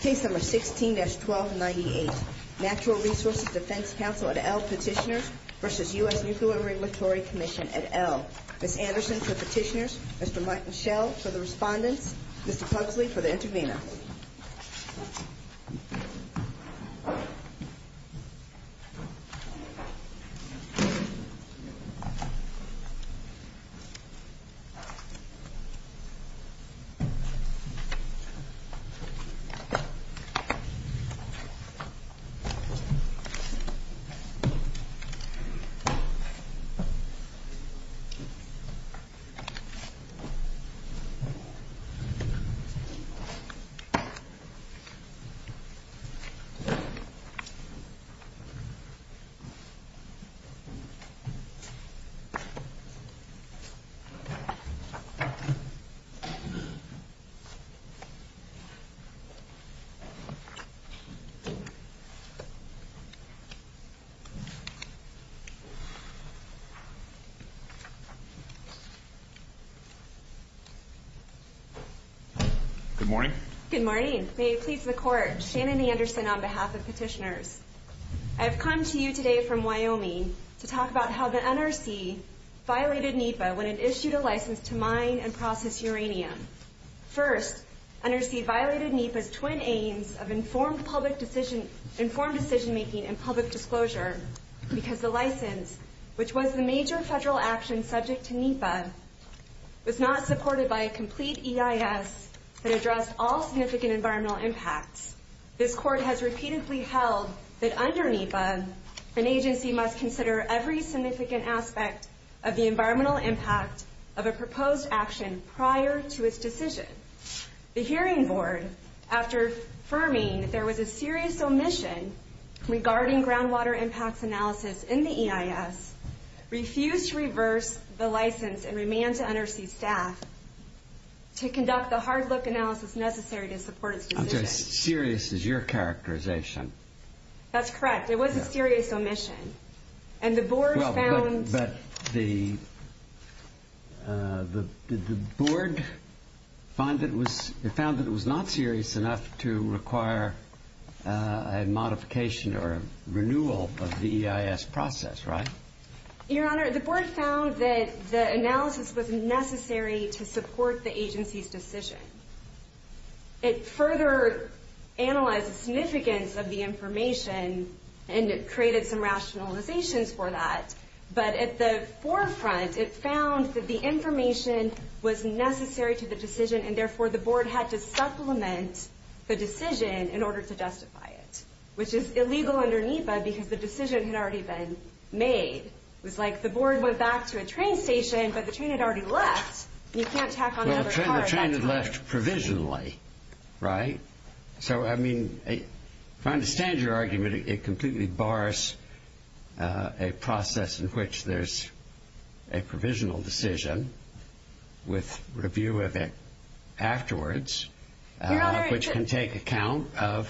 Case No. 16-1298 Natural Resources Defense Council et al. Petitioners v. U.S. Nuclear Regulatory Commission et al. Ms. Anderson for Petitioners, Mr. Michael Schell for the Respondents, Mr. Pugsley for the Intervenor. Thank you, Mr. Schell. Good morning. Good morning. May it please the Court, Shannon Anderson on behalf of Petitioners. I have come to you today from Wyoming to talk about how the NRC violated NEPA when it issued a license to mine and process uranium. First, NRC violated NEPA's twin aims of informed decision-making and public disclosure because the license, which was the major federal action subject to NEPA, was not supported by a complete EIS that addressed all significant environmental impacts. This Court has repeatedly held that under NEPA, an agency must consider every significant aspect of the environmental impact of a proposed action prior to its decision. The Hearing Board, after affirming that there was a serious omission regarding groundwater impacts analysis in the EIS, refused to reverse the license and remand to NRC staff to conduct the hard-look analysis necessary to support its decision. I'm sorry. Serious is your characterization. That's correct. It was a serious omission. And the Board found... Your Honor, the Board found that the analysis was necessary to support the agency's decision. It further analyzed the significance of the information and created some rationalizations for that, but at the forefront, it found that the information was necessary to the decision, and therefore the Board had to supplement the decision in order to justify it, which is illegal under NEPA because the decision had already been made. It was like the Board went back to a train station, but the train had already left, and you can't tack on another car at that time. Well, the train had left provisionally, right? So, I mean, if I understand your argument, it completely bars a process in which there's a provisional decision with review of it afterwards, which can take account of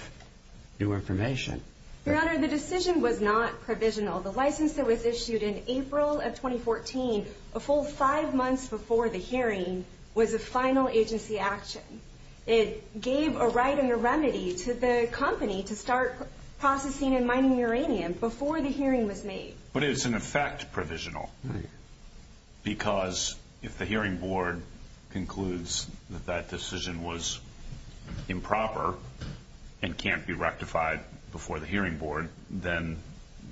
new information. Your Honor, the decision was not provisional. The license that was issued in April of 2014, a full five months before the hearing, was a final agency action. It gave a right and a remedy to the company to start processing and mining uranium before the hearing was made. But it's, in effect, provisional because if the hearing board concludes that that decision was improper and can't be rectified before the hearing board, then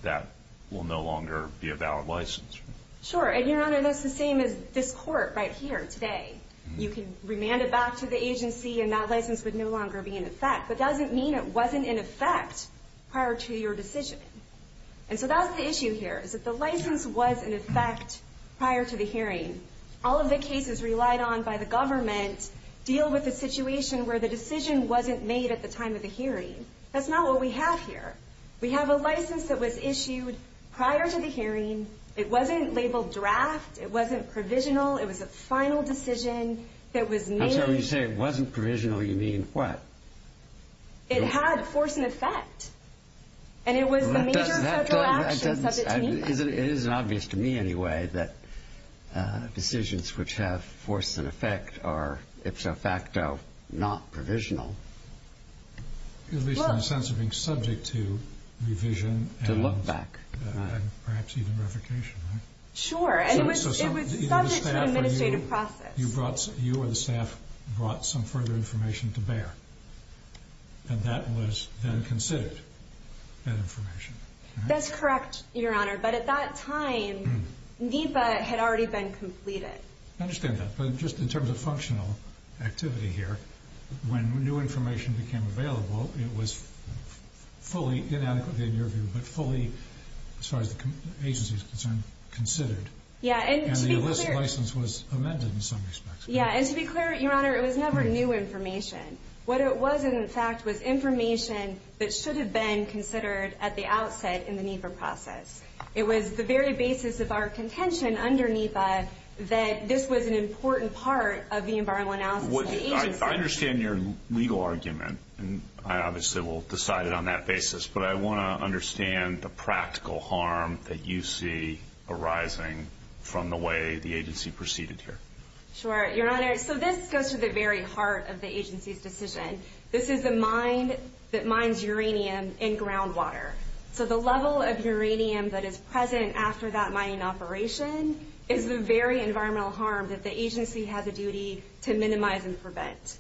that will no longer be a valid license. Sure, and, Your Honor, that's the same as this court right here today. You can remand it back to the agency, and that license would no longer be in effect, but that doesn't mean it wasn't in effect prior to your decision. And so that's the issue here, is that the license was in effect prior to the hearing. All of the cases relied on by the government deal with a situation where the decision wasn't made at the time of the hearing. That's not what we have here. We have a license that was issued prior to the hearing. It wasn't labeled draft. It wasn't provisional. It was a final decision that was made. And so when you say it wasn't provisional, you mean what? It had force and effect. And it was the major federal action subject to me. It isn't obvious to me anyway that decisions which have force and effect are ipso facto not provisional. At least in the sense of being subject to revision and perhaps even revocation, right? Sure, and it was subject to the administrative process. You or the staff brought some further information to bear, and that was then considered, that information. That's correct, Your Honor. But at that time, NEPA had already been completed. I understand that. But just in terms of functional activity here, when new information became available, it was fully, inadequately in your view, but fully, as far as the agency is concerned, considered. Yeah, and to be clear. And the illicit license was amended in some respects. Yeah, and to be clear, Your Honor, it was never new information. What it was, in fact, was information that should have been considered at the outset in the NEPA process. It was the very basis of our contention under NEPA that this was an important part of the environmental analysis of the agency. I understand your legal argument, and I obviously will decide it on that basis, but I want to understand the practical harm that you see arising from the way the agency proceeded here. Sure, Your Honor. So this goes to the very heart of the agency's decision. This is a mine that mines uranium in groundwater. So the level of uranium that is present after that mining operation is the very environmental harm that the agency has a duty to minimize and prevent.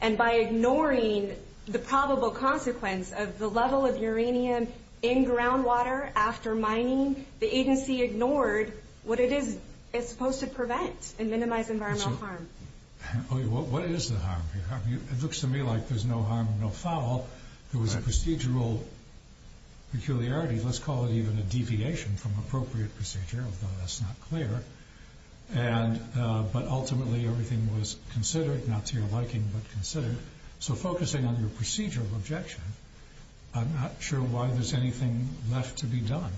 And by ignoring the probable consequence of the level of uranium in groundwater after mining, the agency ignored what it is it's supposed to prevent and minimize environmental harm. What is the harm here? It looks to me like there's no harm, no foul. There was a procedural peculiarity. Let's call it even a deviation from appropriate procedure, although that's not clear. But ultimately everything was considered, not to your liking, but considered. So focusing on your procedural objection, I'm not sure why there's anything left to be done.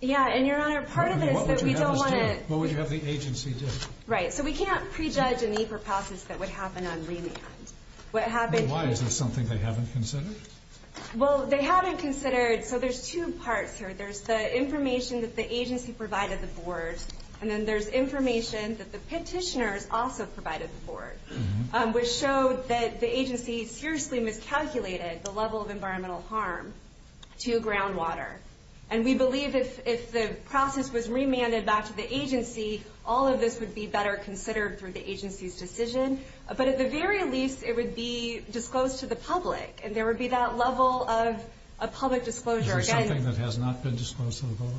Yeah, and Your Honor, part of this is that we don't want to... What would you have us do? What would you have the agency do? Right. So we can't prejudge a NEPA process that would happen on remand. Why? Is this something they haven't considered? Well, they haven't considered... So there's two parts here. There's the information that the agency provided the board, and then there's information that the petitioners also provided the board, which showed that the agency seriously miscalculated the level of environmental harm to groundwater. And we believe if the process was remanded back to the agency, all of this would be better considered through the agency's decision. But at the very least, it would be disclosed to the public, and there would be that level of public disclosure. Is there something that has not been disclosed to the board?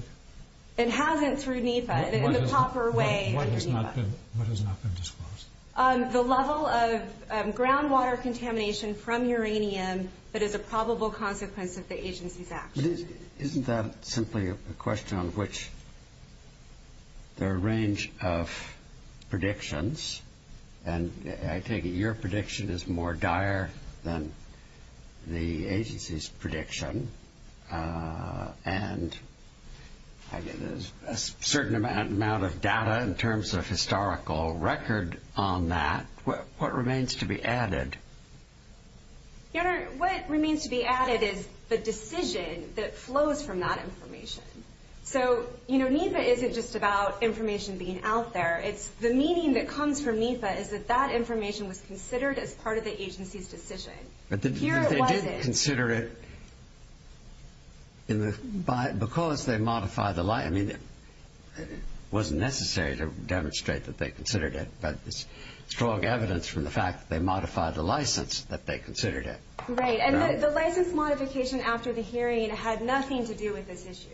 It hasn't through NEPA, in the proper way under NEPA. What has not been disclosed? The level of groundwater contamination from uranium that is a probable consequence of the agency's actions. Isn't that simply a question on which there are a range of predictions? And I take it your prediction is more dire than the agency's prediction. And there's a certain amount of data in terms of historical record on that. What remains to be added? Your Honor, what remains to be added is the decision that flows from that information. So NEPA isn't just about information being out there. The meaning that comes from NEPA is that that information was considered as part of the agency's decision. But they didn't consider it because they modified the license. I mean, it wasn't necessary to demonstrate that they considered it, but there's strong evidence from the fact that they modified the license that they considered it. Right, and the license modification after the hearing had nothing to do with this issue.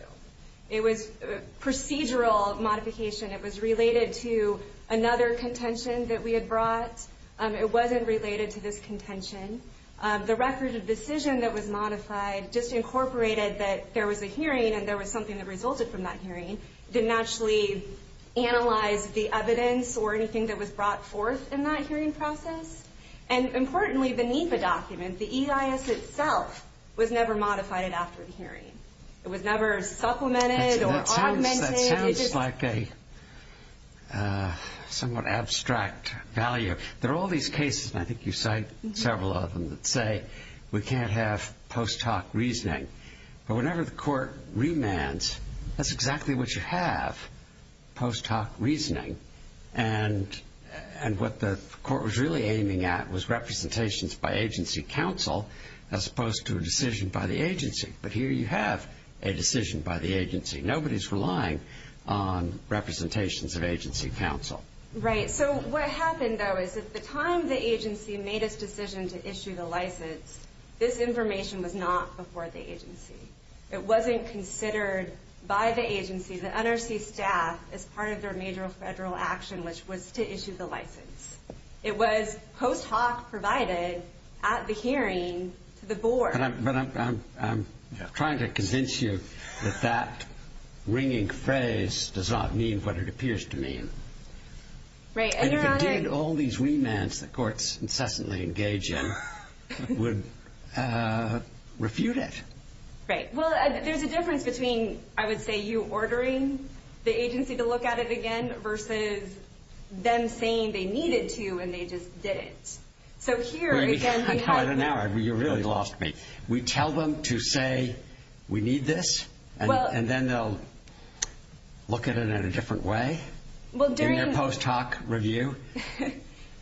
It was procedural modification. It was related to another contention that we had brought. It wasn't related to this contention. The record of decision that was modified just incorporated that there was a hearing and there was something that resulted from that hearing. It didn't actually analyze the evidence or anything that was brought forth in that hearing process. And importantly, the NEPA document, the EIS itself, was never modified after the hearing. It was never supplemented or augmented. That sounds like a somewhat abstract value. There are all these cases, and I think you cite several of them, that say we can't have post hoc reasoning. But whenever the court remands, that's exactly what you have, post hoc reasoning. And what the court was really aiming at was representations by agency counsel as opposed to a decision by the agency. But here you have a decision by the agency. Nobody's relying on representations of agency counsel. Right. So what happened, though, is at the time the agency made its decision to issue the license, this information was not before the agency. It wasn't considered by the agency, the NRC staff, as part of their major federal action, which was to issue the license. It was post hoc provided at the hearing to the board. But I'm trying to convince you that that ringing phrase does not mean what it appears to mean. And if it did, all these remands that courts incessantly engage in would refute it. Right. Well, there's a difference between, I would say, you ordering the agency to look at it again versus them saying they needed to and they just didn't. Right. So here, again, we have... I'm tired now. You really lost me. We tell them to say, we need this, and then they'll look at it in a different way? Well, during... In their post hoc review?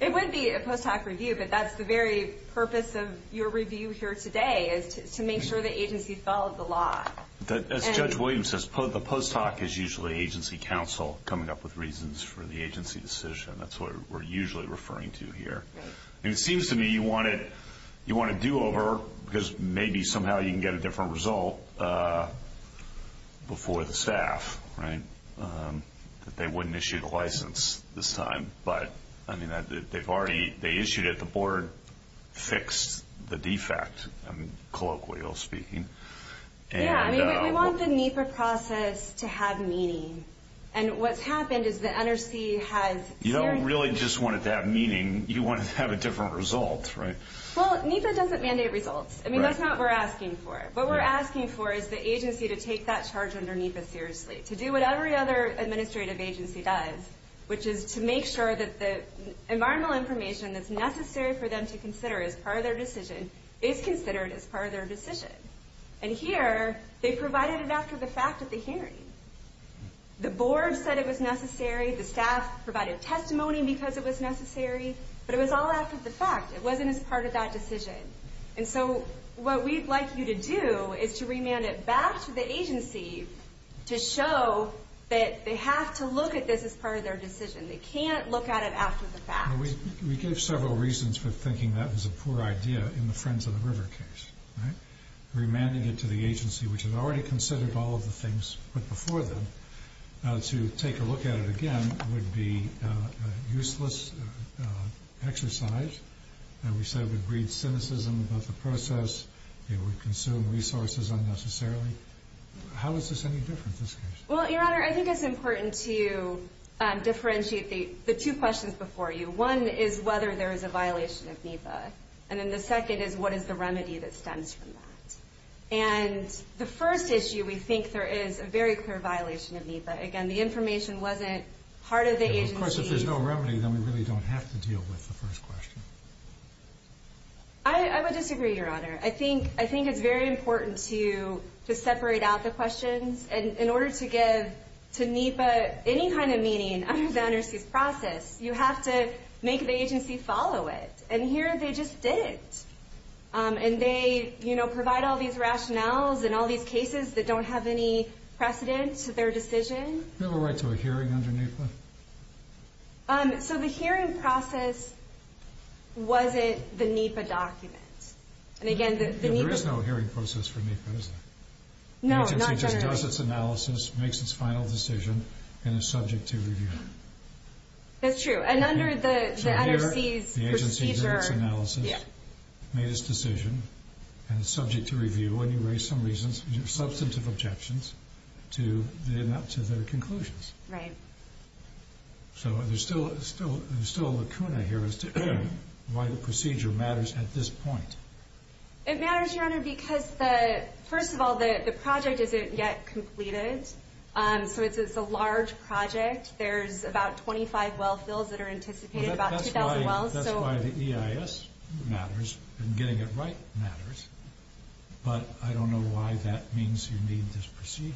It would be a post hoc review, but that's the very purpose of your review here today, is to make sure the agency followed the law. As Judge Williams says, the post hoc is usually agency counsel coming up with reasons for the agency decision. That's what we're usually referring to here. Right. And it seems to me you want a do-over because maybe somehow you can get a different result before the staff, right, that they wouldn't issue the license this time. But, I mean, they've already... They issued it. The board fixed the defect, colloquially speaking. Yeah, I mean, we want the NEPA process to have meaning. And what's happened is the NRC has... You don't really just want it to have meaning. You want it to have a different result, right? Well, NEPA doesn't mandate results. I mean, that's not what we're asking for. What we're asking for is the agency to take that charge under NEPA seriously, to do what every other administrative agency does, which is to make sure that the environmental information that's necessary for them to consider as part of their decision is considered as part of their decision. And here, they provided it after the fact at the hearing. The board said it was necessary. The staff provided testimony because it was necessary. But it was all after the fact. It wasn't as part of that decision. And so what we'd like you to do is to remand it back to the agency to show that they have to look at this as part of their decision. They can't look at it after the fact. We gave several reasons for thinking that was a poor idea in the Friends of the River case. Remanding it to the agency, which had already considered all of the things put before them, to take a look at it again would be a useless exercise. We said it would breed cynicism about the process. It would consume resources unnecessarily. How is this any different, this case? Well, Your Honor, I think it's important to differentiate the two questions before you. One is whether there is a violation of NEPA. And then the second is what is the remedy that stems from that. And the first issue, we think there is a very clear violation of NEPA. Again, the information wasn't part of the agency. Of course, if there's no remedy, then we really don't have to deal with the first question. I would disagree, Your Honor. I think it's very important to separate out the questions. And in order to give to NEPA any kind of meaning under the underseas process, you have to make the agency follow it. And here, they just didn't. And they provide all these rationales and all these cases that don't have any precedent to their decision. Do you have a right to a hearing under NEPA? So the hearing process wasn't the NEPA document. There is no hearing process for NEPA, is there? No, not generally. The agency just does its analysis, makes its final decision, and is subject to review. That's true. And under the underseas procedure. So here, the agency did its analysis, made its decision, and is subject to review. And you raise some substantive objections to their conclusions. Right. So there's still a lacuna here as to why the procedure matters at this point. It matters, Your Honor, because first of all, the project isn't yet completed. So it's a large project. There's about 25 well fills that are anticipated, about 2,000 wells. That's why the EIS matters, and getting it right matters. But I don't know why that means you need this procedure.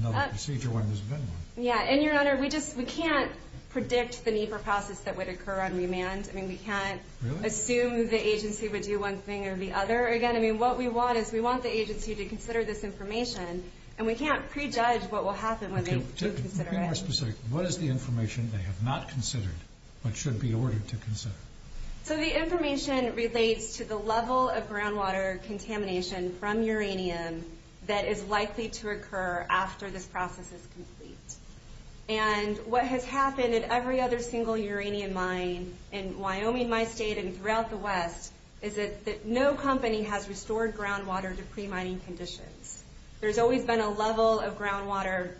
Another procedure when there's been one. Yeah. And, Your Honor, we can't predict the NEPA process that would occur on remand. I mean, we can't assume the agency would do one thing or the other again. I mean, what we want is we want the agency to consider this information, and we can't prejudge what will happen when they consider it. Can you be more specific? What is the information they have not considered but should be ordered to consider? So the information relates to the level of groundwater contamination from uranium that is likely to occur after this process is complete. And what has happened at every other single uranium mine in Wyoming, my state, and throughout the West is that no company has restored groundwater to pre-mining conditions. There's always been a level of groundwater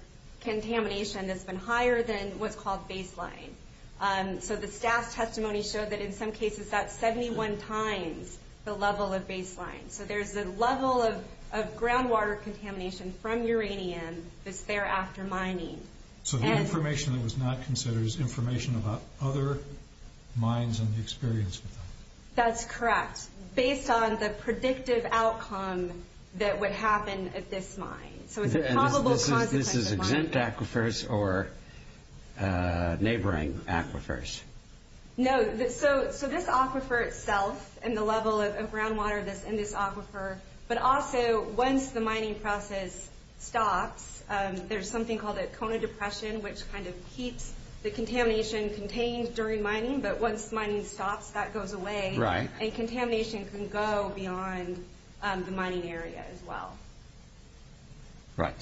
contamination that's been higher than what's called baseline. So the staff's testimony showed that in some cases that's 71 times the level of baseline. So there's a level of groundwater contamination from uranium that's there after mining. So the information that was not considered is information about other mines and the experience with that? That's correct. Based on the predictive outcome that would happen at this mine. So it's a probable consequence of mining. This is exempt aquifers or neighboring aquifers? No. So this aquifer itself and the level of groundwater in this aquifer, but also once the mining process stops, there's something called a Kona depression which kind of keeps the contamination contained during mining, but once mining stops, that goes away. Right. And contamination can go beyond the mining area as well. Right.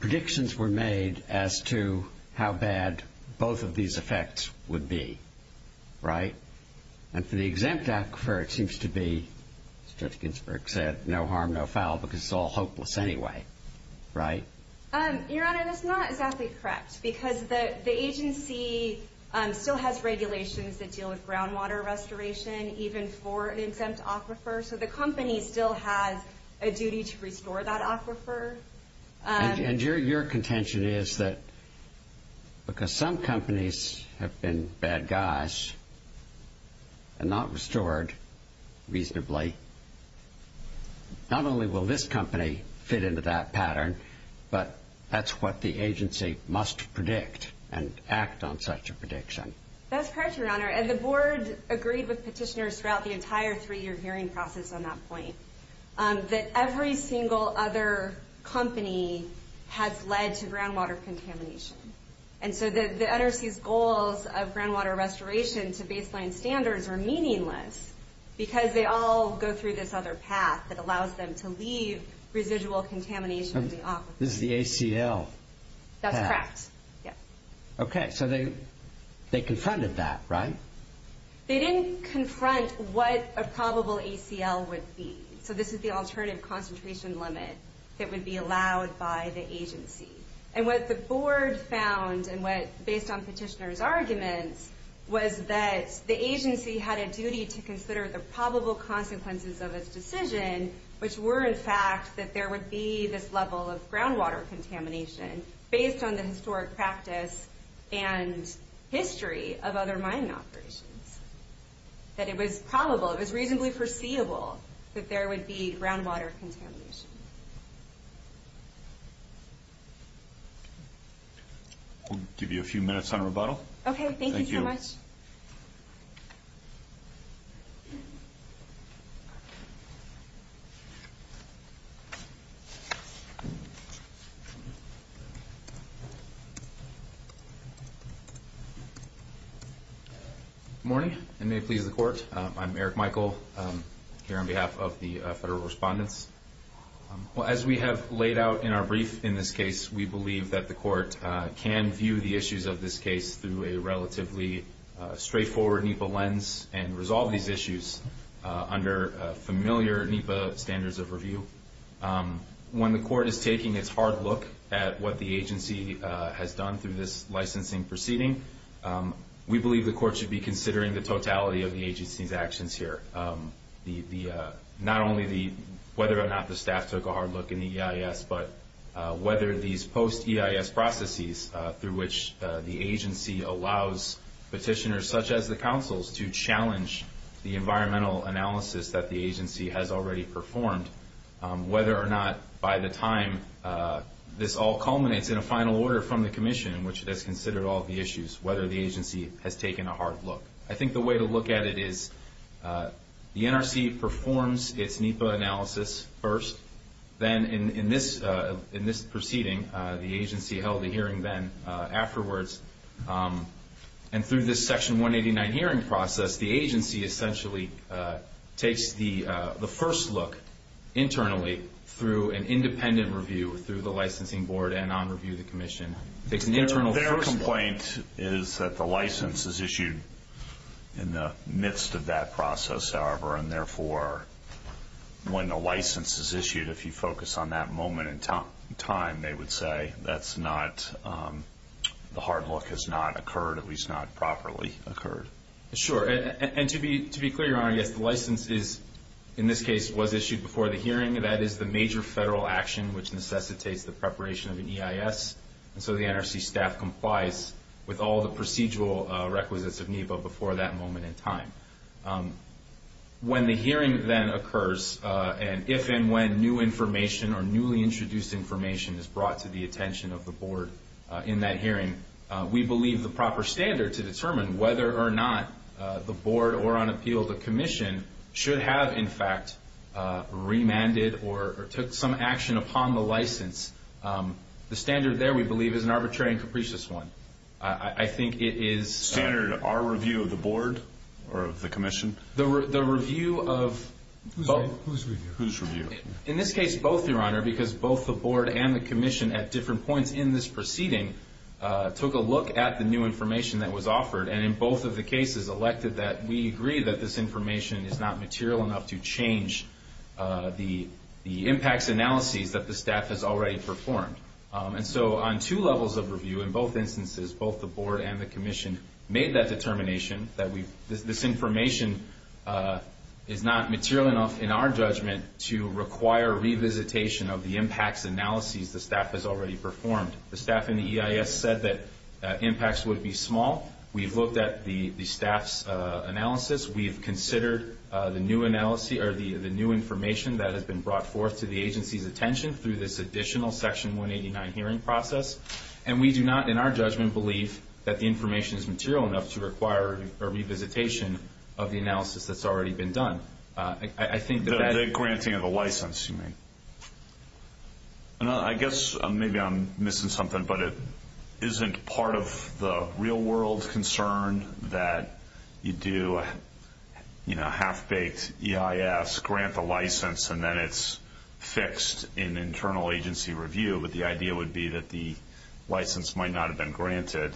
Predictions were made as to how bad both of these effects would be, right? And for the exempt aquifer, it seems to be, as Judge Ginsburg said, no harm, no foul because it's all hopeless anyway, right? Your Honor, that's not exactly correct because the agency still has regulations that deal with groundwater restoration even for an exempt aquifer, so the company still has a duty to restore that aquifer. And your contention is that because some companies have been bad guys and not restored reasonably, not only will this company fit into that pattern, but that's what the agency must predict and act on such a prediction. That's correct, Your Honor, and the board agreed with petitioners throughout the entire three-year hearing process on that point that every single other company has led to groundwater contamination. And so the NRC's goals of groundwater restoration to baseline standards are meaningless because they all go through this other path that allows them to leave residual contamination in the aquifer. This is the ACL path. That's correct, yes. Okay, so they confronted that, right? They didn't confront what a probable ACL would be, so this is the alternative concentration limit that would be allowed by the agency. And what the board found and what, based on petitioners' arguments, was that the agency had a duty to consider the probable consequences of its decision, which were, in fact, that there would be this level of groundwater contamination based on the historic practice and history of other mining operations. That it was probable, it was reasonably foreseeable that there would be groundwater contamination. We'll give you a few minutes on rebuttal. Okay, thank you so much. Good morning, and may it please the Court. I'm Eric Michael, here on behalf of the federal respondents. As we have laid out in our brief in this case, we believe that the Court can view the issues of this case through a relatively straightforward NEPA lens and resolve these issues under familiar NEPA standards of review. When the Court is taking its hard look at what the agency has done through this licensing proceeding, we believe the Court should be considering the totality of the agency's actions here. Not only whether or not the staff took a hard look in the EIS, but whether these post-EIS processes, through which the agency allows petitioners such as the counsels to challenge the environmental analysis that the agency has already performed, whether or not by the time this all culminates in a final order from the Commission, in which it has considered all the issues, whether the agency has taken a hard look. I think the way to look at it is the NRC performs its NEPA analysis first. Then in this proceeding, the agency held a hearing then afterwards. And through this Section 189 hearing process, the agency essentially takes the first look internally through an independent review through the licensing board and on review of the Commission. Their complaint is that the license is issued in the midst of that process, however, and therefore when the license is issued, if you focus on that moment in time, they would say the hard look has not occurred, at least not properly occurred. Sure. And to be clear, Your Honor, yes, the license is, in this case, was issued before the hearing. That is the major federal action which necessitates the preparation of an EIS. And so the NRC staff complies with all the procedural requisites of NEPA before that moment in time. When the hearing then occurs, and if and when new information or newly introduced information is brought to the attention of the board in that hearing, we believe the proper standard to determine whether or not the board or, on appeal, the Commission should have, in fact, remanded or took some action upon the license, the standard there, we believe, is an arbitrary and capricious one. I think it is standard. Our review of the board or of the Commission? The review of both. Whose review? Whose review? In this case, both, Your Honor, because both the board and the Commission, at different points in this proceeding, took a look at the new information that was offered and in both of the cases elected that we agree that this information is not material enough to change the impacts analyses that the staff has already performed. And so on two levels of review, in both instances, both the board and the Commission, made that determination that this information is not material enough, in our judgment, to require revisitation of the impacts analyses the staff has already performed. The staff in the EIS said that impacts would be small. We've looked at the staff's analysis. We've considered the new information that has been brought forth to the agency's attention through this additional Section 189 hearing process, and we do not, in our judgment, believe that the information is material enough to require a revisitation of the analysis that's already been done. The granting of the license, you mean. I guess maybe I'm missing something, but it isn't part of the real-world concern that you do a half-baked EIS, grant the license, and then it's fixed in internal agency review, but the idea would be that the license might not have been granted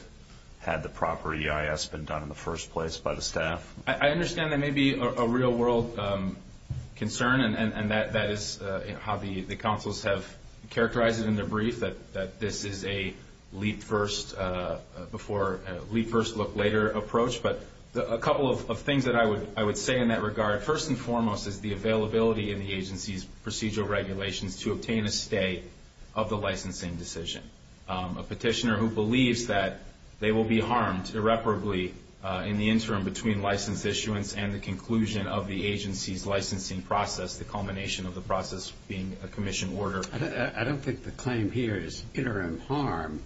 had the proper EIS been done in the first place by the staff. I understand that may be a real-world concern, and that is how the counsels have characterized it in their brief, that this is a leap-first-before-leap-first-look-later approach. But a couple of things that I would say in that regard, first and foremost is the availability in the agency's procedural regulations to obtain a stay of the licensing decision. A petitioner who believes that they will be harmed irreparably in the interim between license issuance and the conclusion of the agency's licensing process, the culmination of the process being a commission order. I don't think the claim here is interim harm,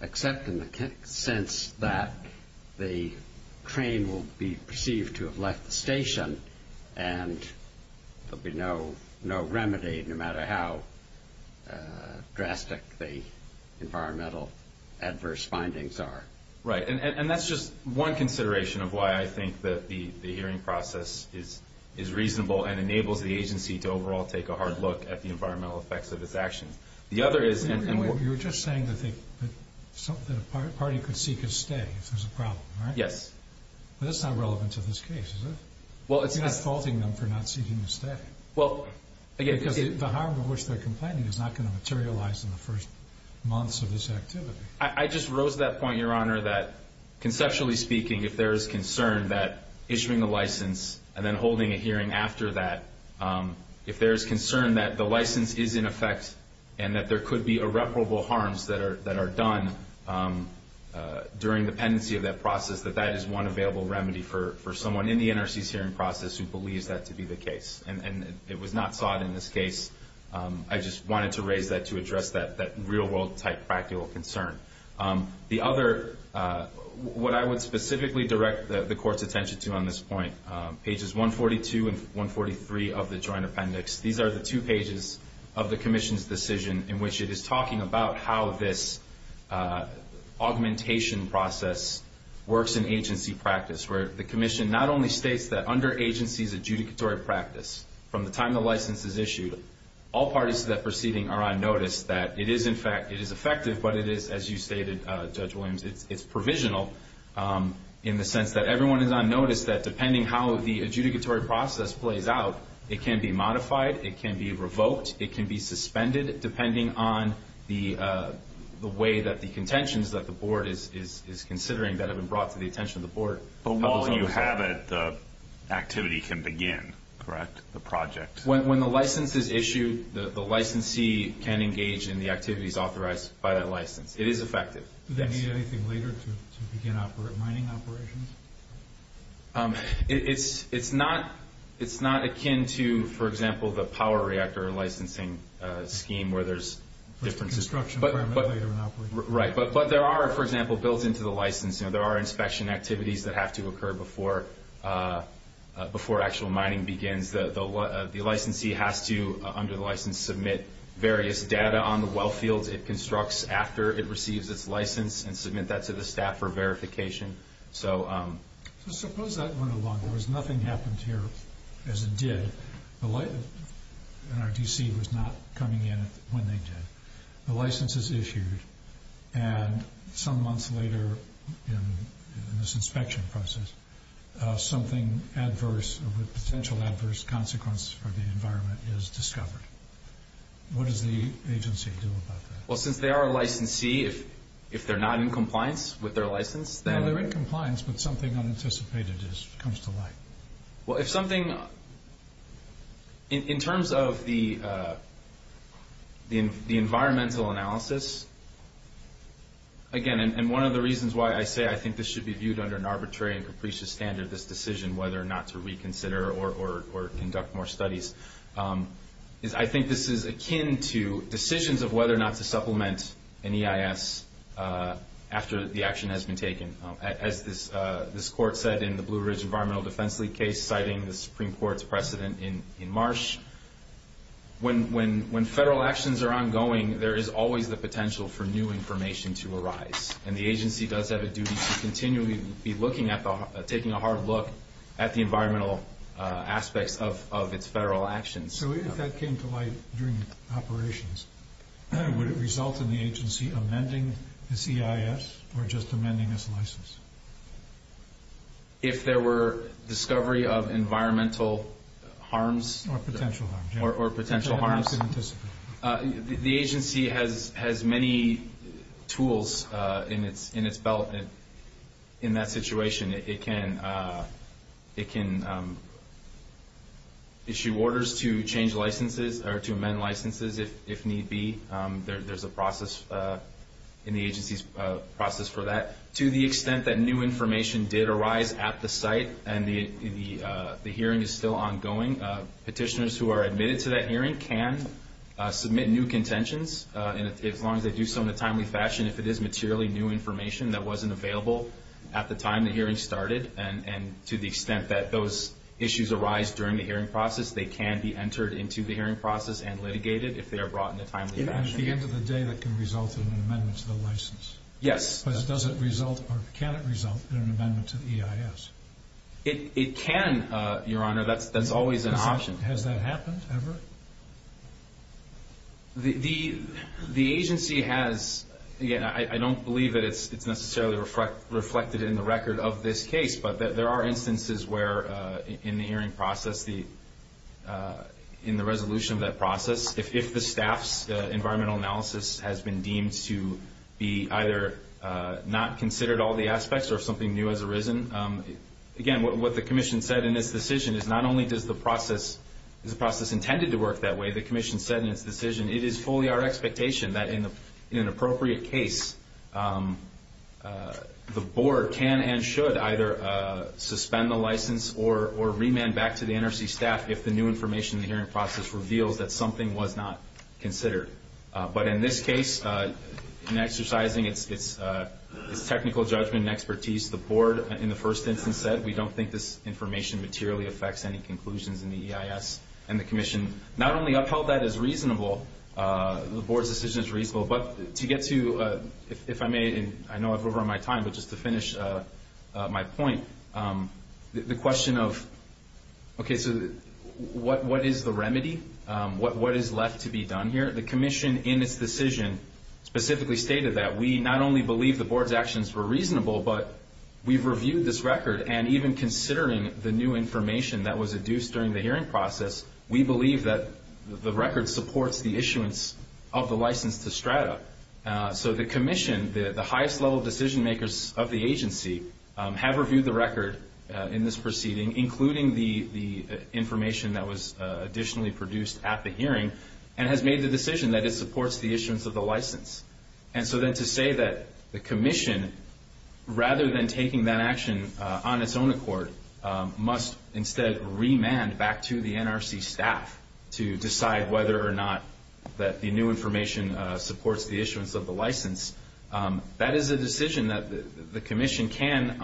except in the sense that the train will be perceived to have left the station and there will be no remedy no matter how drastic the environmental adverse findings are. Right. And that's just one consideration of why I think that the hearing process is reasonable and enables the agency to overall take a hard look at the environmental effects of its actions. The other is— You were just saying that a party could seek a stay if there's a problem, right? Yes. But that's not relevant to this case, is it? Well, it's not. You're just faulting them for not seeking a stay. Well, again— Because the harm to which they're complaining is not going to materialize in the first months of this activity. I just rose to that point, Your Honor, that conceptually speaking, if there is concern that issuing a license and then holding a hearing after that, if there is concern that the license is in effect and that there could be irreparable harms that are done during the pendency of that process, that that is one available remedy for someone in the NRC's hearing process who believes that to be the case. And it was not sought in this case. I just wanted to raise that to address that real-world-type practical concern. The other—what I would specifically direct the Court's attention to on this point, pages 142 and 143 of the Joint Appendix, these are the two pages of the Commission's decision in which it is talking about how this augmentation process works in agency practice, where the Commission not only states that under agency's adjudicatory practice, from the time the license is issued, all parties to that proceeding are on notice that it is, in fact, it is effective, but it is, as you stated, Judge Williams, it's provisional in the sense that everyone is on notice that depending how the adjudicatory process plays out, it can be modified, it can be revoked, it can be suspended, depending on the way that the contentions that the Board is considering that have been brought to the attention of the Board. But while you have it, the activity can begin, correct, the project? When the license is issued, the licensee can engage in the activities authorized by that license. It is effective. Do they need anything later to begin mining operations? It's not akin to, for example, the power reactor licensing scheme where there's different— First construction, then later in operation. Right, but there are, for example, built into the license, there are inspection activities that have to occur before actual mining begins. The licensee has to, under the license, submit various data on the well fields it constructs after it receives its license and submit that to the staff for verification. So suppose that went along. There was nothing happened here as it did. NRDC was not coming in when they did. The license is issued, and some months later in this inspection process, something adverse, a potential adverse consequence for the environment is discovered. What does the agency do about that? Well, since they are a licensee, if they're not in compliance with their license, then— They're in compliance, but something unanticipated comes to light. Well, if something— In terms of the environmental analysis, again, and one of the reasons why I say I think this should be viewed under an arbitrary and capricious standard, this decision, whether or not to reconsider or conduct more studies, is I think this is akin to decisions of whether or not to supplement an EIS after the action has been taken. As this court said in the Blue Ridge Environmental Defense League case, citing the Supreme Court's precedent in Marsh, when federal actions are ongoing, there is always the potential for new information to arise. And the agency does have a duty to continually be looking at the— taking a hard look at the environmental aspects of its federal actions. So if that came to light during operations, would it result in the agency amending this EIS or just amending this license? If there were discovery of environmental harms— Or potential harms, yeah. Or potential harms. That they could anticipate. The agency has many tools in its belt in that situation. It can issue orders to change licenses or to amend licenses if need be. There's a process in the agency's process for that. To the extent that new information did arise at the site and the hearing is still ongoing, petitioners who are admitted to that hearing can submit new contentions, as long as they do so in a timely fashion, if it is materially new information that wasn't available at the time the hearing started. And to the extent that those issues arise during the hearing process, they can be entered into the hearing process and litigated if they are brought in a timely fashion. And at the end of the day that can result in an amendment to the license. Yes. Because does it result or can it result in an amendment to the EIS? It can, Your Honor. That's always an option. Has that happened ever? The agency has. I don't believe that it's necessarily reflected in the record of this case, but there are instances where in the hearing process, in the resolution of that process, if the staff's environmental analysis has been deemed to be either not considered all the aspects or if something new has arisen, again, what the commission said in this decision is not only is the process intended to work that way, the commission said in its decision, it is fully our expectation that in an appropriate case the board can and should either suspend the license or remand back to the NRC staff if the new information in the hearing process reveals that something was not considered. But in this case, in exercising its technical judgment and expertise, the board in the first instance said we don't think this information materially affects any conclusions in the EIS. And the commission not only upheld that as reasonable, the board's decision is reasonable, but to get to, if I may, and I know I've overrun my time, but just to finish my point, the question of, okay, so what is the remedy? What is left to be done here? The commission in its decision specifically stated that we not only believe the board's actions were reasonable, but we've reviewed this record, and even considering the new information that was induced during the hearing process, we believe that the record supports the issuance of the license to STRATA. So the commission, the highest level decision makers of the agency, have reviewed the record in this proceeding, including the information that was additionally produced at the hearing, and has made the decision that it supports the issuance of the license. And so then to say that the commission, rather than taking that action on its own accord, must instead remand back to the NRC staff to decide whether or not the new information supports the issuance of the license, that is a decision that the commission can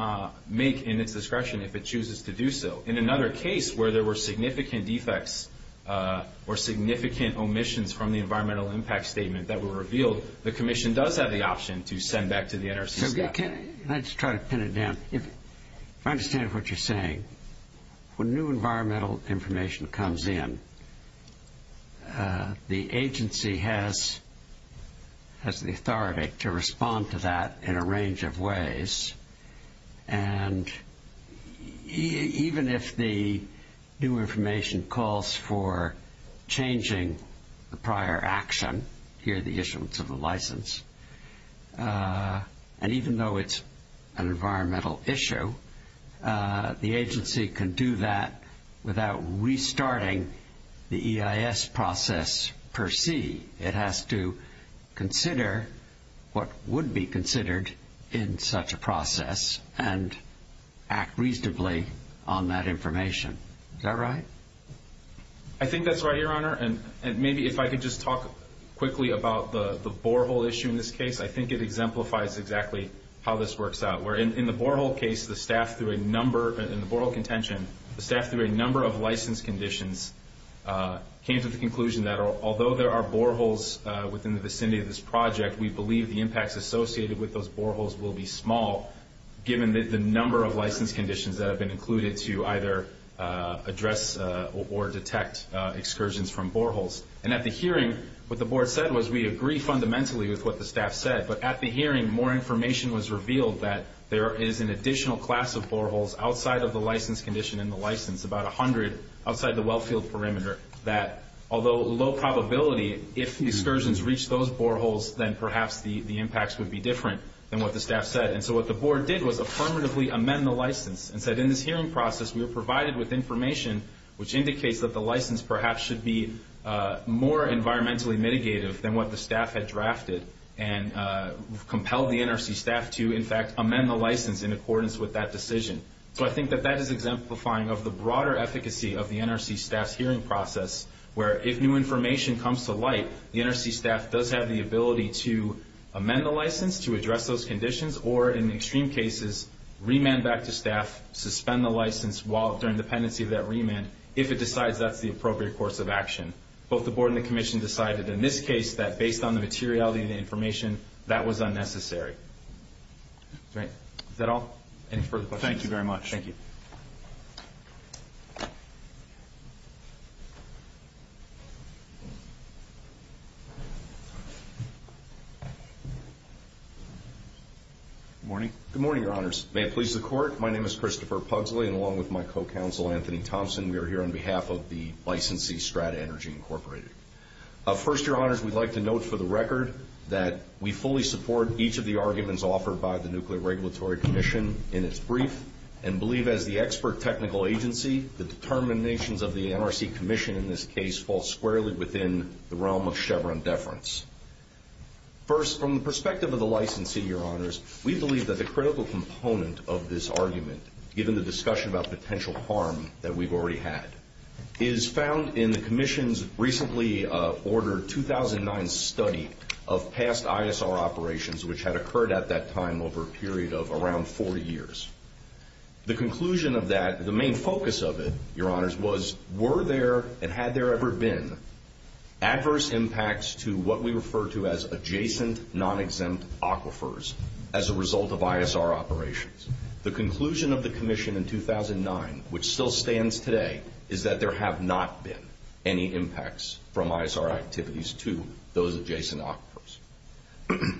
make in its discretion if it chooses to do so. In another case where there were significant defects or significant omissions from the environmental impact statement that were revealed, the commission does have the option to send back to the NRC staff. Can I just try to pin it down? If I understand what you're saying, when new environmental information comes in, the agency has the authority to respond to that in a range of ways, and even if the new information calls for changing the prior action, here the issuance of the license, and even though it's an environmental issue, the agency can do that without restarting the EIS process per se. It has to consider what would be considered in such a process and act reasonably on that information. Is that right? I think that's right, Your Honor, and maybe if I could just talk quickly about the borehole issue in this case, I think it exemplifies exactly how this works out. In the borehole case, the staff, through a number of license conditions, came to the conclusion that although there are boreholes within the vicinity of this project, we believe the impacts associated with those boreholes will be small, given the number of license conditions that have been included to either address or detect excursions from boreholes. And at the hearing, what the board said was we agree fundamentally with what the staff said, but at the hearing, more information was revealed that there is an additional class of boreholes outside of the license condition in the license, about 100 outside the wellfield perimeter, that although low probability, if excursions reach those boreholes, then perhaps the impacts would be different than what the staff said. And so what the board did was affirmatively amend the license and said in this hearing process, we were provided with information which indicates that the license perhaps should be more environmentally mitigative than what the staff had drafted and compelled the NRC staff to, in fact, So I think that that is exemplifying of the broader efficacy of the NRC staff's hearing process, where if new information comes to light, the NRC staff does have the ability to amend the license, to address those conditions, or in extreme cases, remand back to staff, suspend the license while they're in dependency of that remand, if it decides that's the appropriate course of action. Both the board and the commission decided in this case that based on the materiality of the information, that was unnecessary. Is that all? Any further questions? Thank you very much. Thank you. Good morning. Good morning, Your Honors. May it please the Court, my name is Christopher Pugsley, and along with my co-counsel, Anthony Thompson, we are here on behalf of the licensee, Strata Energy Incorporated. First, Your Honors, we'd like to note for the record that we fully support each of the arguments offered by the Nuclear Regulatory Commission in its brief, and believe as the expert technical agency, the determinations of the NRC commission in this case fall squarely within the realm of Chevron deference. First, from the perspective of the licensee, Your Honors, we believe that the critical component of this argument, given the discussion about potential harm that we've already had, is found in the commission's recently ordered 2009 study of past ISR operations, which had occurred at that time over a period of around 40 years. The conclusion of that, the main focus of it, Your Honors, was, were there and had there ever been adverse impacts to what we refer to as adjacent, non-exempt aquifers as a result of ISR operations? The conclusion of the commission in 2009, which still stands today, is that there have not been any impacts from ISR activities to those adjacent aquifers.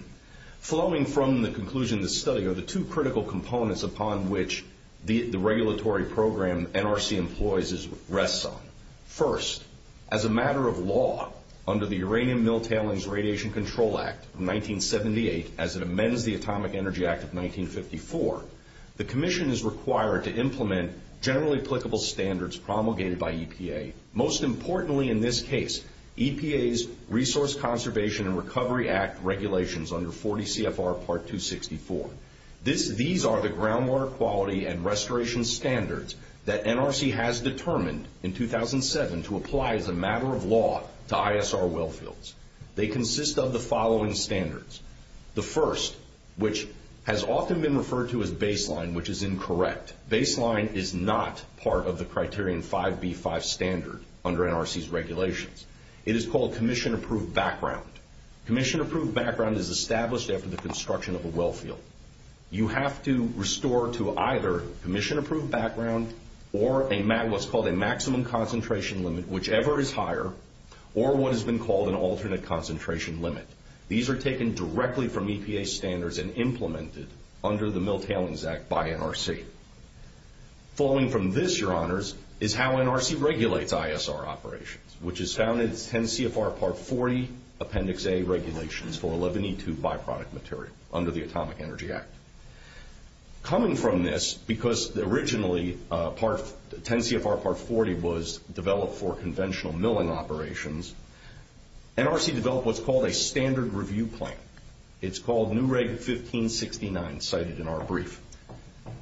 Flowing from the conclusion of the study are the two critical components upon which the regulatory program NRC employs rests on. First, as a matter of law, under the Uranium Mill Tailings Radiation Control Act of 1978, as it amends the Atomic Energy Act of 1954, the commission is required to implement generally applicable standards promulgated by EPA, most importantly in this case, EPA's Resource Conservation and Recovery Act regulations under 40 CFR Part 264. These are the groundwater quality and restoration standards that NRC has determined in 2007 to apply as a matter of law to ISR wellfields. They consist of the following standards. The first, which has often been referred to as baseline, which is incorrect. Baseline is not part of the Criterion 5B5 standard under NRC's regulations. It is called commission-approved background. Commission-approved background is established after the construction of a wellfield. You have to restore to either commission-approved background or what's called a maximum concentration limit, whichever is higher, or what has been called an alternate concentration limit. These are taken directly from EPA standards and implemented under the Mill Tailings Act by NRC. Following from this, Your Honors, is how NRC regulates ISR operations, which is found in 10 CFR Part 40 Appendix A regulations for 11E2 byproduct material under the Atomic Energy Act. Coming from this, because originally 10 CFR Part 40 was developed for conventional milling operations, NRC developed what's called a standard review plan. It's called NREG 1569, cited in our brief.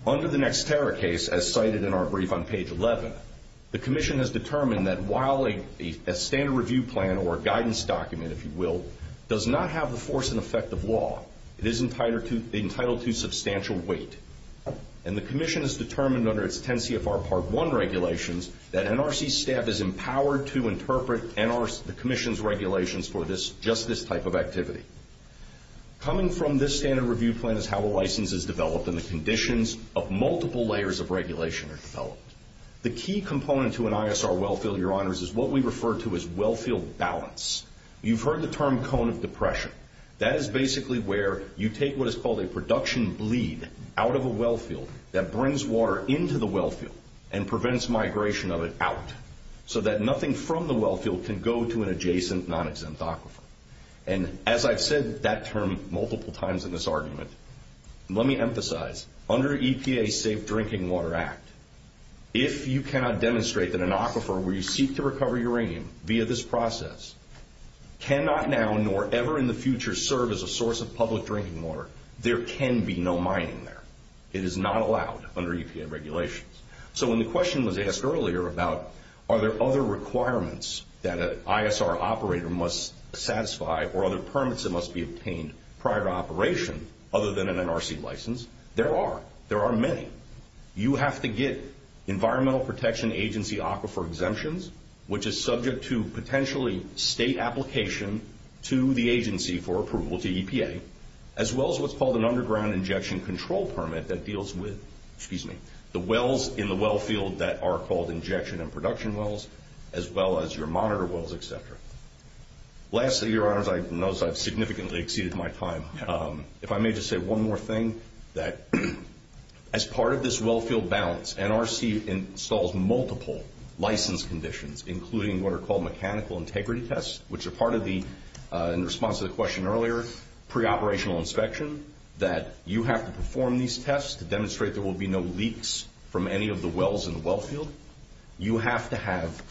Under the next terror case, as cited in our brief on page 11, the commission has determined that while a standard review plan, or a guidance document, if you will, does not have the force and effect of law, it is entitled to substantial weight. And the commission has determined under its 10 CFR Part 1 regulations that NRC staff is empowered to interpret the commission's regulations for just this type of activity. Coming from this standard review plan is how a license is developed and the conditions of multiple layers of regulation are developed. The key component to an ISR wellfield, Your Honors, is what we refer to as wellfield balance. You've heard the term cone of depression. That is basically where you take what is called a production bleed out of a wellfield that brings water into the wellfield and prevents migration of it out so that nothing from the wellfield can go to an adjacent non-exempt aquifer. And as I've said that term multiple times in this argument, let me emphasize, under EPA's Safe Drinking Water Act, if you cannot demonstrate that an aquifer where you seek to recover uranium via this process cannot now nor ever in the future serve as a source of public drinking water, there can be no mining there. It is not allowed under EPA regulations. So when the question was asked earlier about are there other requirements that an ISR operator must satisfy or other permits that must be obtained prior to operation other than an NRC license, there are. There are many. You have to get Environmental Protection Agency aquifer exemptions, which is subject to potentially state application to the agency for approval to EPA, as well as what's called an underground injection control permit that deals with, excuse me, the wells in the wellfield that are called injection and production wells as well as your monitor wells, et cetera. Lastly, Your Honors, I've noticed I've significantly exceeded my time. If I may just say one more thing, that as part of this wellfield balance, NRC installs multiple license conditions, including what are called mechanical integrity tests, which are part of the, in response to the question earlier, preoperational inspection, that you have to perform these tests to demonstrate there will be no leaks from any of the wells in the wellfield. You have to have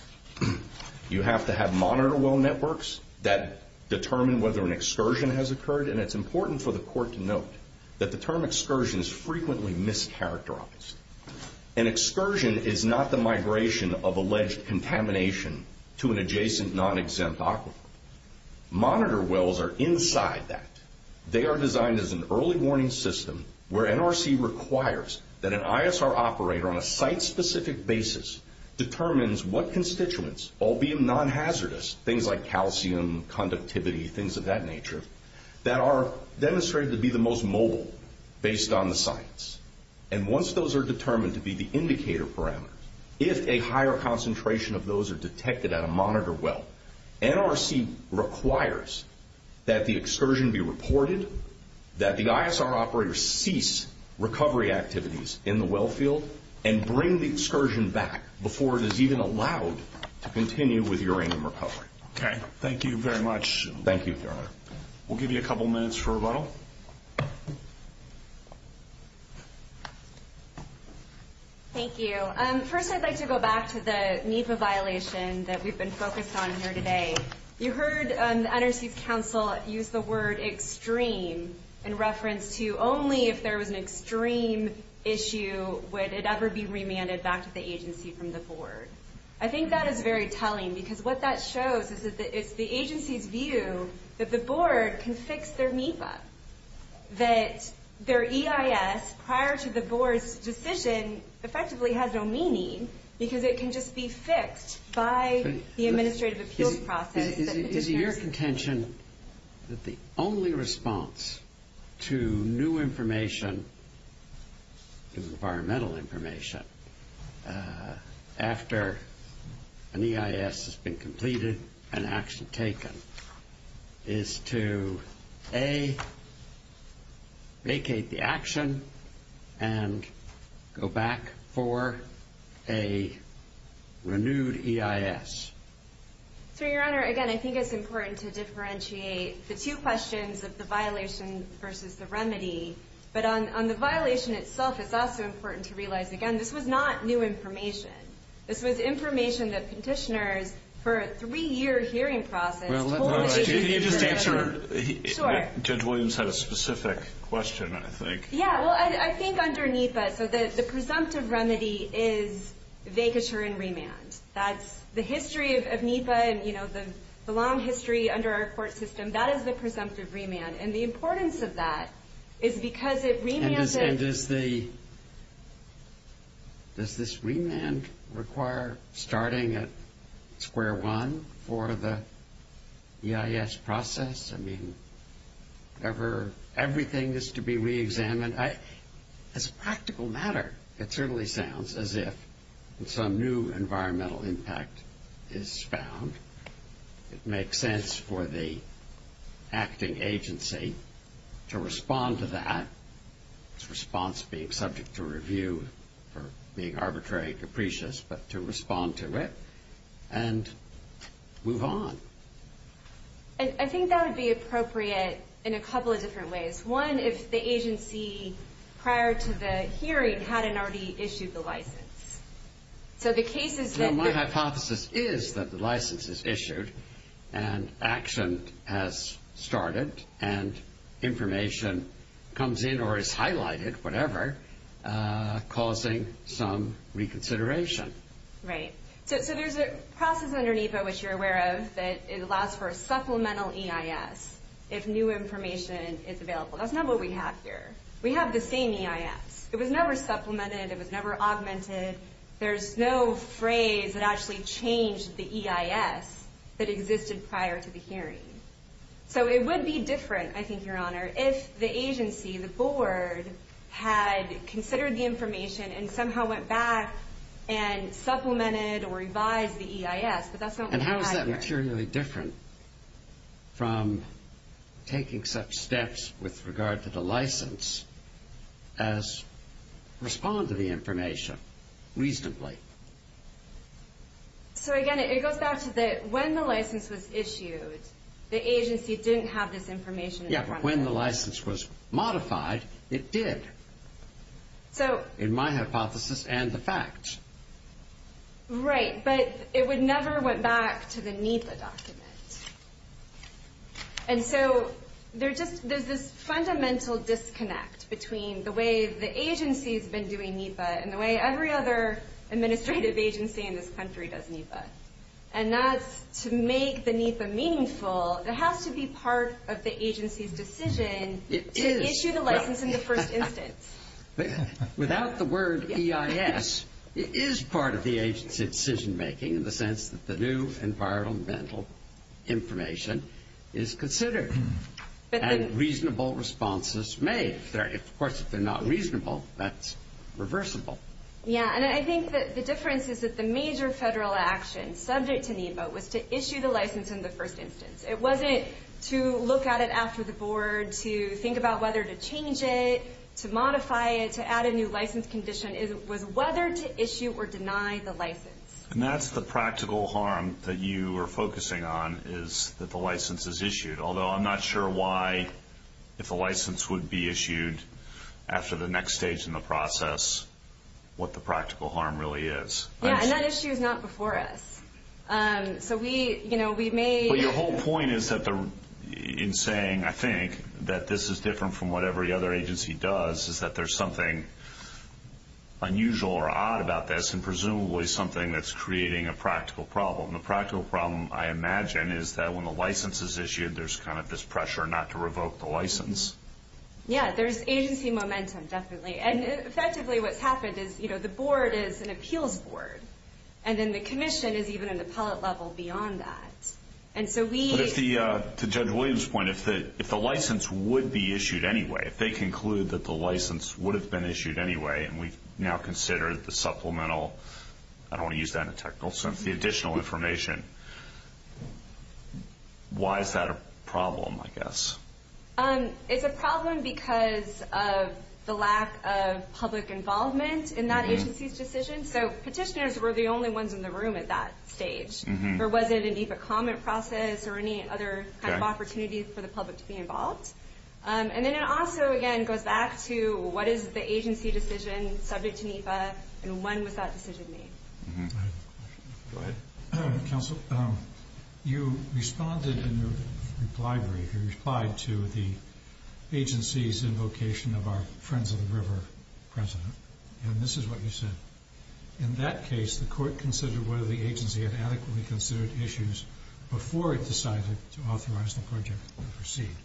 monitor well networks that determine whether an excursion has occurred, and it's important for the court to note that the term excursion is frequently mischaracterized. An excursion is not the migration of alleged contamination to an adjacent non-exempt aquifer. Monitor wells are inside that. They are designed as an early warning system where NRC requires that an ISR operator, on a site-specific basis, determines what constituents, albeit non-hazardous, things like calcium, conductivity, things of that nature, that are demonstrated to be the most mobile based on the science. And once those are determined to be the indicator parameters, if a higher concentration of those are detected at a monitor well, NRC requires that the excursion be reported, that the ISR operator cease recovery activities in the wellfield and bring the excursion back before it is even allowed to continue with uranium recovery. Okay. Thank you very much. Thank you, Your Honor. We'll give you a couple minutes for rebuttal. Thank you. First, I'd like to go back to the NEPA violation that we've been focused on here today. You heard the NRC's counsel use the word extreme in reference to only if there was an extreme issue would it ever be remanded back to the agency from the board. I think that is very telling because what that shows is that it's the agency's view that the board can fix their NEPA, that their EIS prior to the board's decision effectively has no meaning because it can just be fixed by the administrative appeals process. Is it your contention that the only response to new information, environmental information, after an EIS has been completed and action taken is to, A, vacate the action and go back for a renewed EIS? So, Your Honor, again, I think it's important to differentiate the two questions of the violation versus the remedy. But on the violation itself, it's also important to realize, again, this was not new information. This was information that petitioners, for a three-year hearing process, told the petitioner and the remedy. Sure. Judge Williams had a specific question, I think. Yeah. Well, I think underneath that, so the presumptive remedy is vacature and remand. That's the history of NEPA and, you know, the long history under our court system. That is the presumptive remand. And the importance of that is because it remanded. And does this remand require starting at square one for the EIS process? I mean, everything is to be reexamined. As a practical matter, it certainly sounds as if some new environmental impact is found. It makes sense for the acting agency to respond to that, its response being subject to review for being arbitrary and capricious, but to respond to it and move on. I think that would be appropriate in a couple of different ways. One, if the agency, prior to the hearing, hadn't already issued the license. So the case is that the- Well, my hypothesis is that the license is issued and action has started and information comes in or is highlighted, whatever, causing some reconsideration. Right. So there's a process under NEPA, which you're aware of, that it allows for a supplemental EIS if new information is available. That's not what we have here. We have the same EIS. It was never supplemented. It was never augmented. There's no phrase that actually changed the EIS that existed prior to the hearing. So it would be different, I think, Your Honor, if the agency, the board, And how is that materially different from taking such steps with regard to the license as respond to the information reasonably? So, again, it goes back to when the license was issued, the agency didn't have this information in front of them. Yeah, but when the license was modified, it did, in my hypothesis and the facts. Right, but it never went back to the NEPA document. And so there's this fundamental disconnect between the way the agency has been doing NEPA and the way every other administrative agency in this country does NEPA, and that's to make the NEPA meaningful, it has to be part of the agency's decision to issue the license in the first instance. Without the word EIS, it is part of the agency's decision-making in the sense that the new environmental information is considered and reasonable responses made. Of course, if they're not reasonable, that's reversible. Yeah, and I think that the difference is that the major federal action subject to NEPA was to issue the license in the first instance. It wasn't to look at it after the board, to think about whether to change it, to modify it, to add a new license condition. It was whether to issue or deny the license. And that's the practical harm that you are focusing on is that the license is issued, although I'm not sure why, if the license would be issued after the next stage in the process, what the practical harm really is. Yeah, and that issue is not before us. So we, you know, we may... My point is that in saying, I think, that this is different from what every other agency does, is that there's something unusual or odd about this, and presumably something that's creating a practical problem. The practical problem, I imagine, is that when the license is issued, there's kind of this pressure not to revoke the license. Yeah, there's agency momentum, definitely. And effectively what's happened is, you know, the board is an appeals board, and then the commission is even an appellate level beyond that. And so we... But to Judge Williams' point, if the license would be issued anyway, if they conclude that the license would have been issued anyway, and we've now considered the supplemental, I don't want to use that in a technical sense, the additional information, why is that a problem, I guess? It's a problem because of the lack of public involvement in that agency's decision. So petitioners were the only ones in the room at that stage. There wasn't a NEPA comment process or any other kind of opportunity for the public to be involved. And then it also, again, goes back to what is the agency decision subject to NEPA, and when was that decision made. Go ahead. Counsel, you responded in your reply brief, you replied to the agency's invocation of our Friends of the River president, and this is what you said. In that case, the court considered whether the agency had adequately considered issues before it decided to authorize the project to proceed.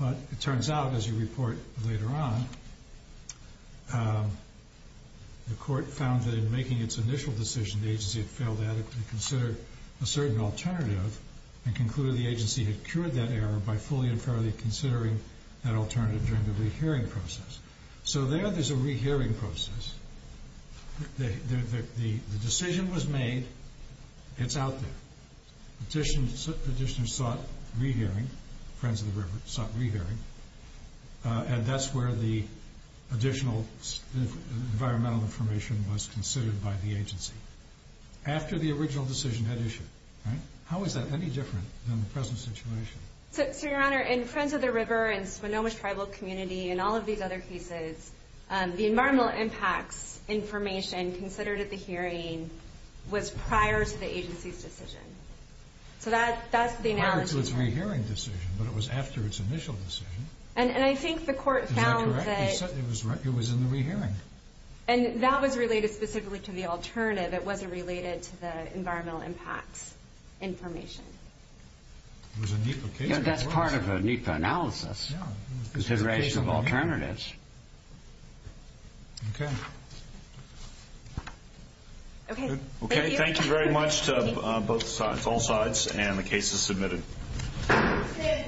But it turns out, as you report later on, the court found that in making its initial decision, the agency had failed to adequately consider a certain alternative and concluded the agency had cured that error by fully and fairly considering that alternative during the rehearing process. So there, there's a rehearing process. The decision was made. It's out there. Petitioners sought rehearing, Friends of the River sought rehearing, and that's where the additional environmental information was considered by the agency, after the original decision had issued. How is that any different than the present situation? So, Your Honor, in Friends of the River and Swinomish Tribal Community and all of these other cases, the environmental impacts information considered at the hearing was prior to the agency's decision. So that's the analogy. Prior to its rehearing decision, but it was after its initial decision. And I think the court found that it was in the rehearing. And that was related specifically to the alternative. It wasn't related to the environmental impacts information. It was a NEPA case. Yeah, that's part of a NEPA analysis. Yeah. Consideration of alternatives. Okay. Okay, thank you. Okay, thank you very much to both sides, all sides, and the cases submitted.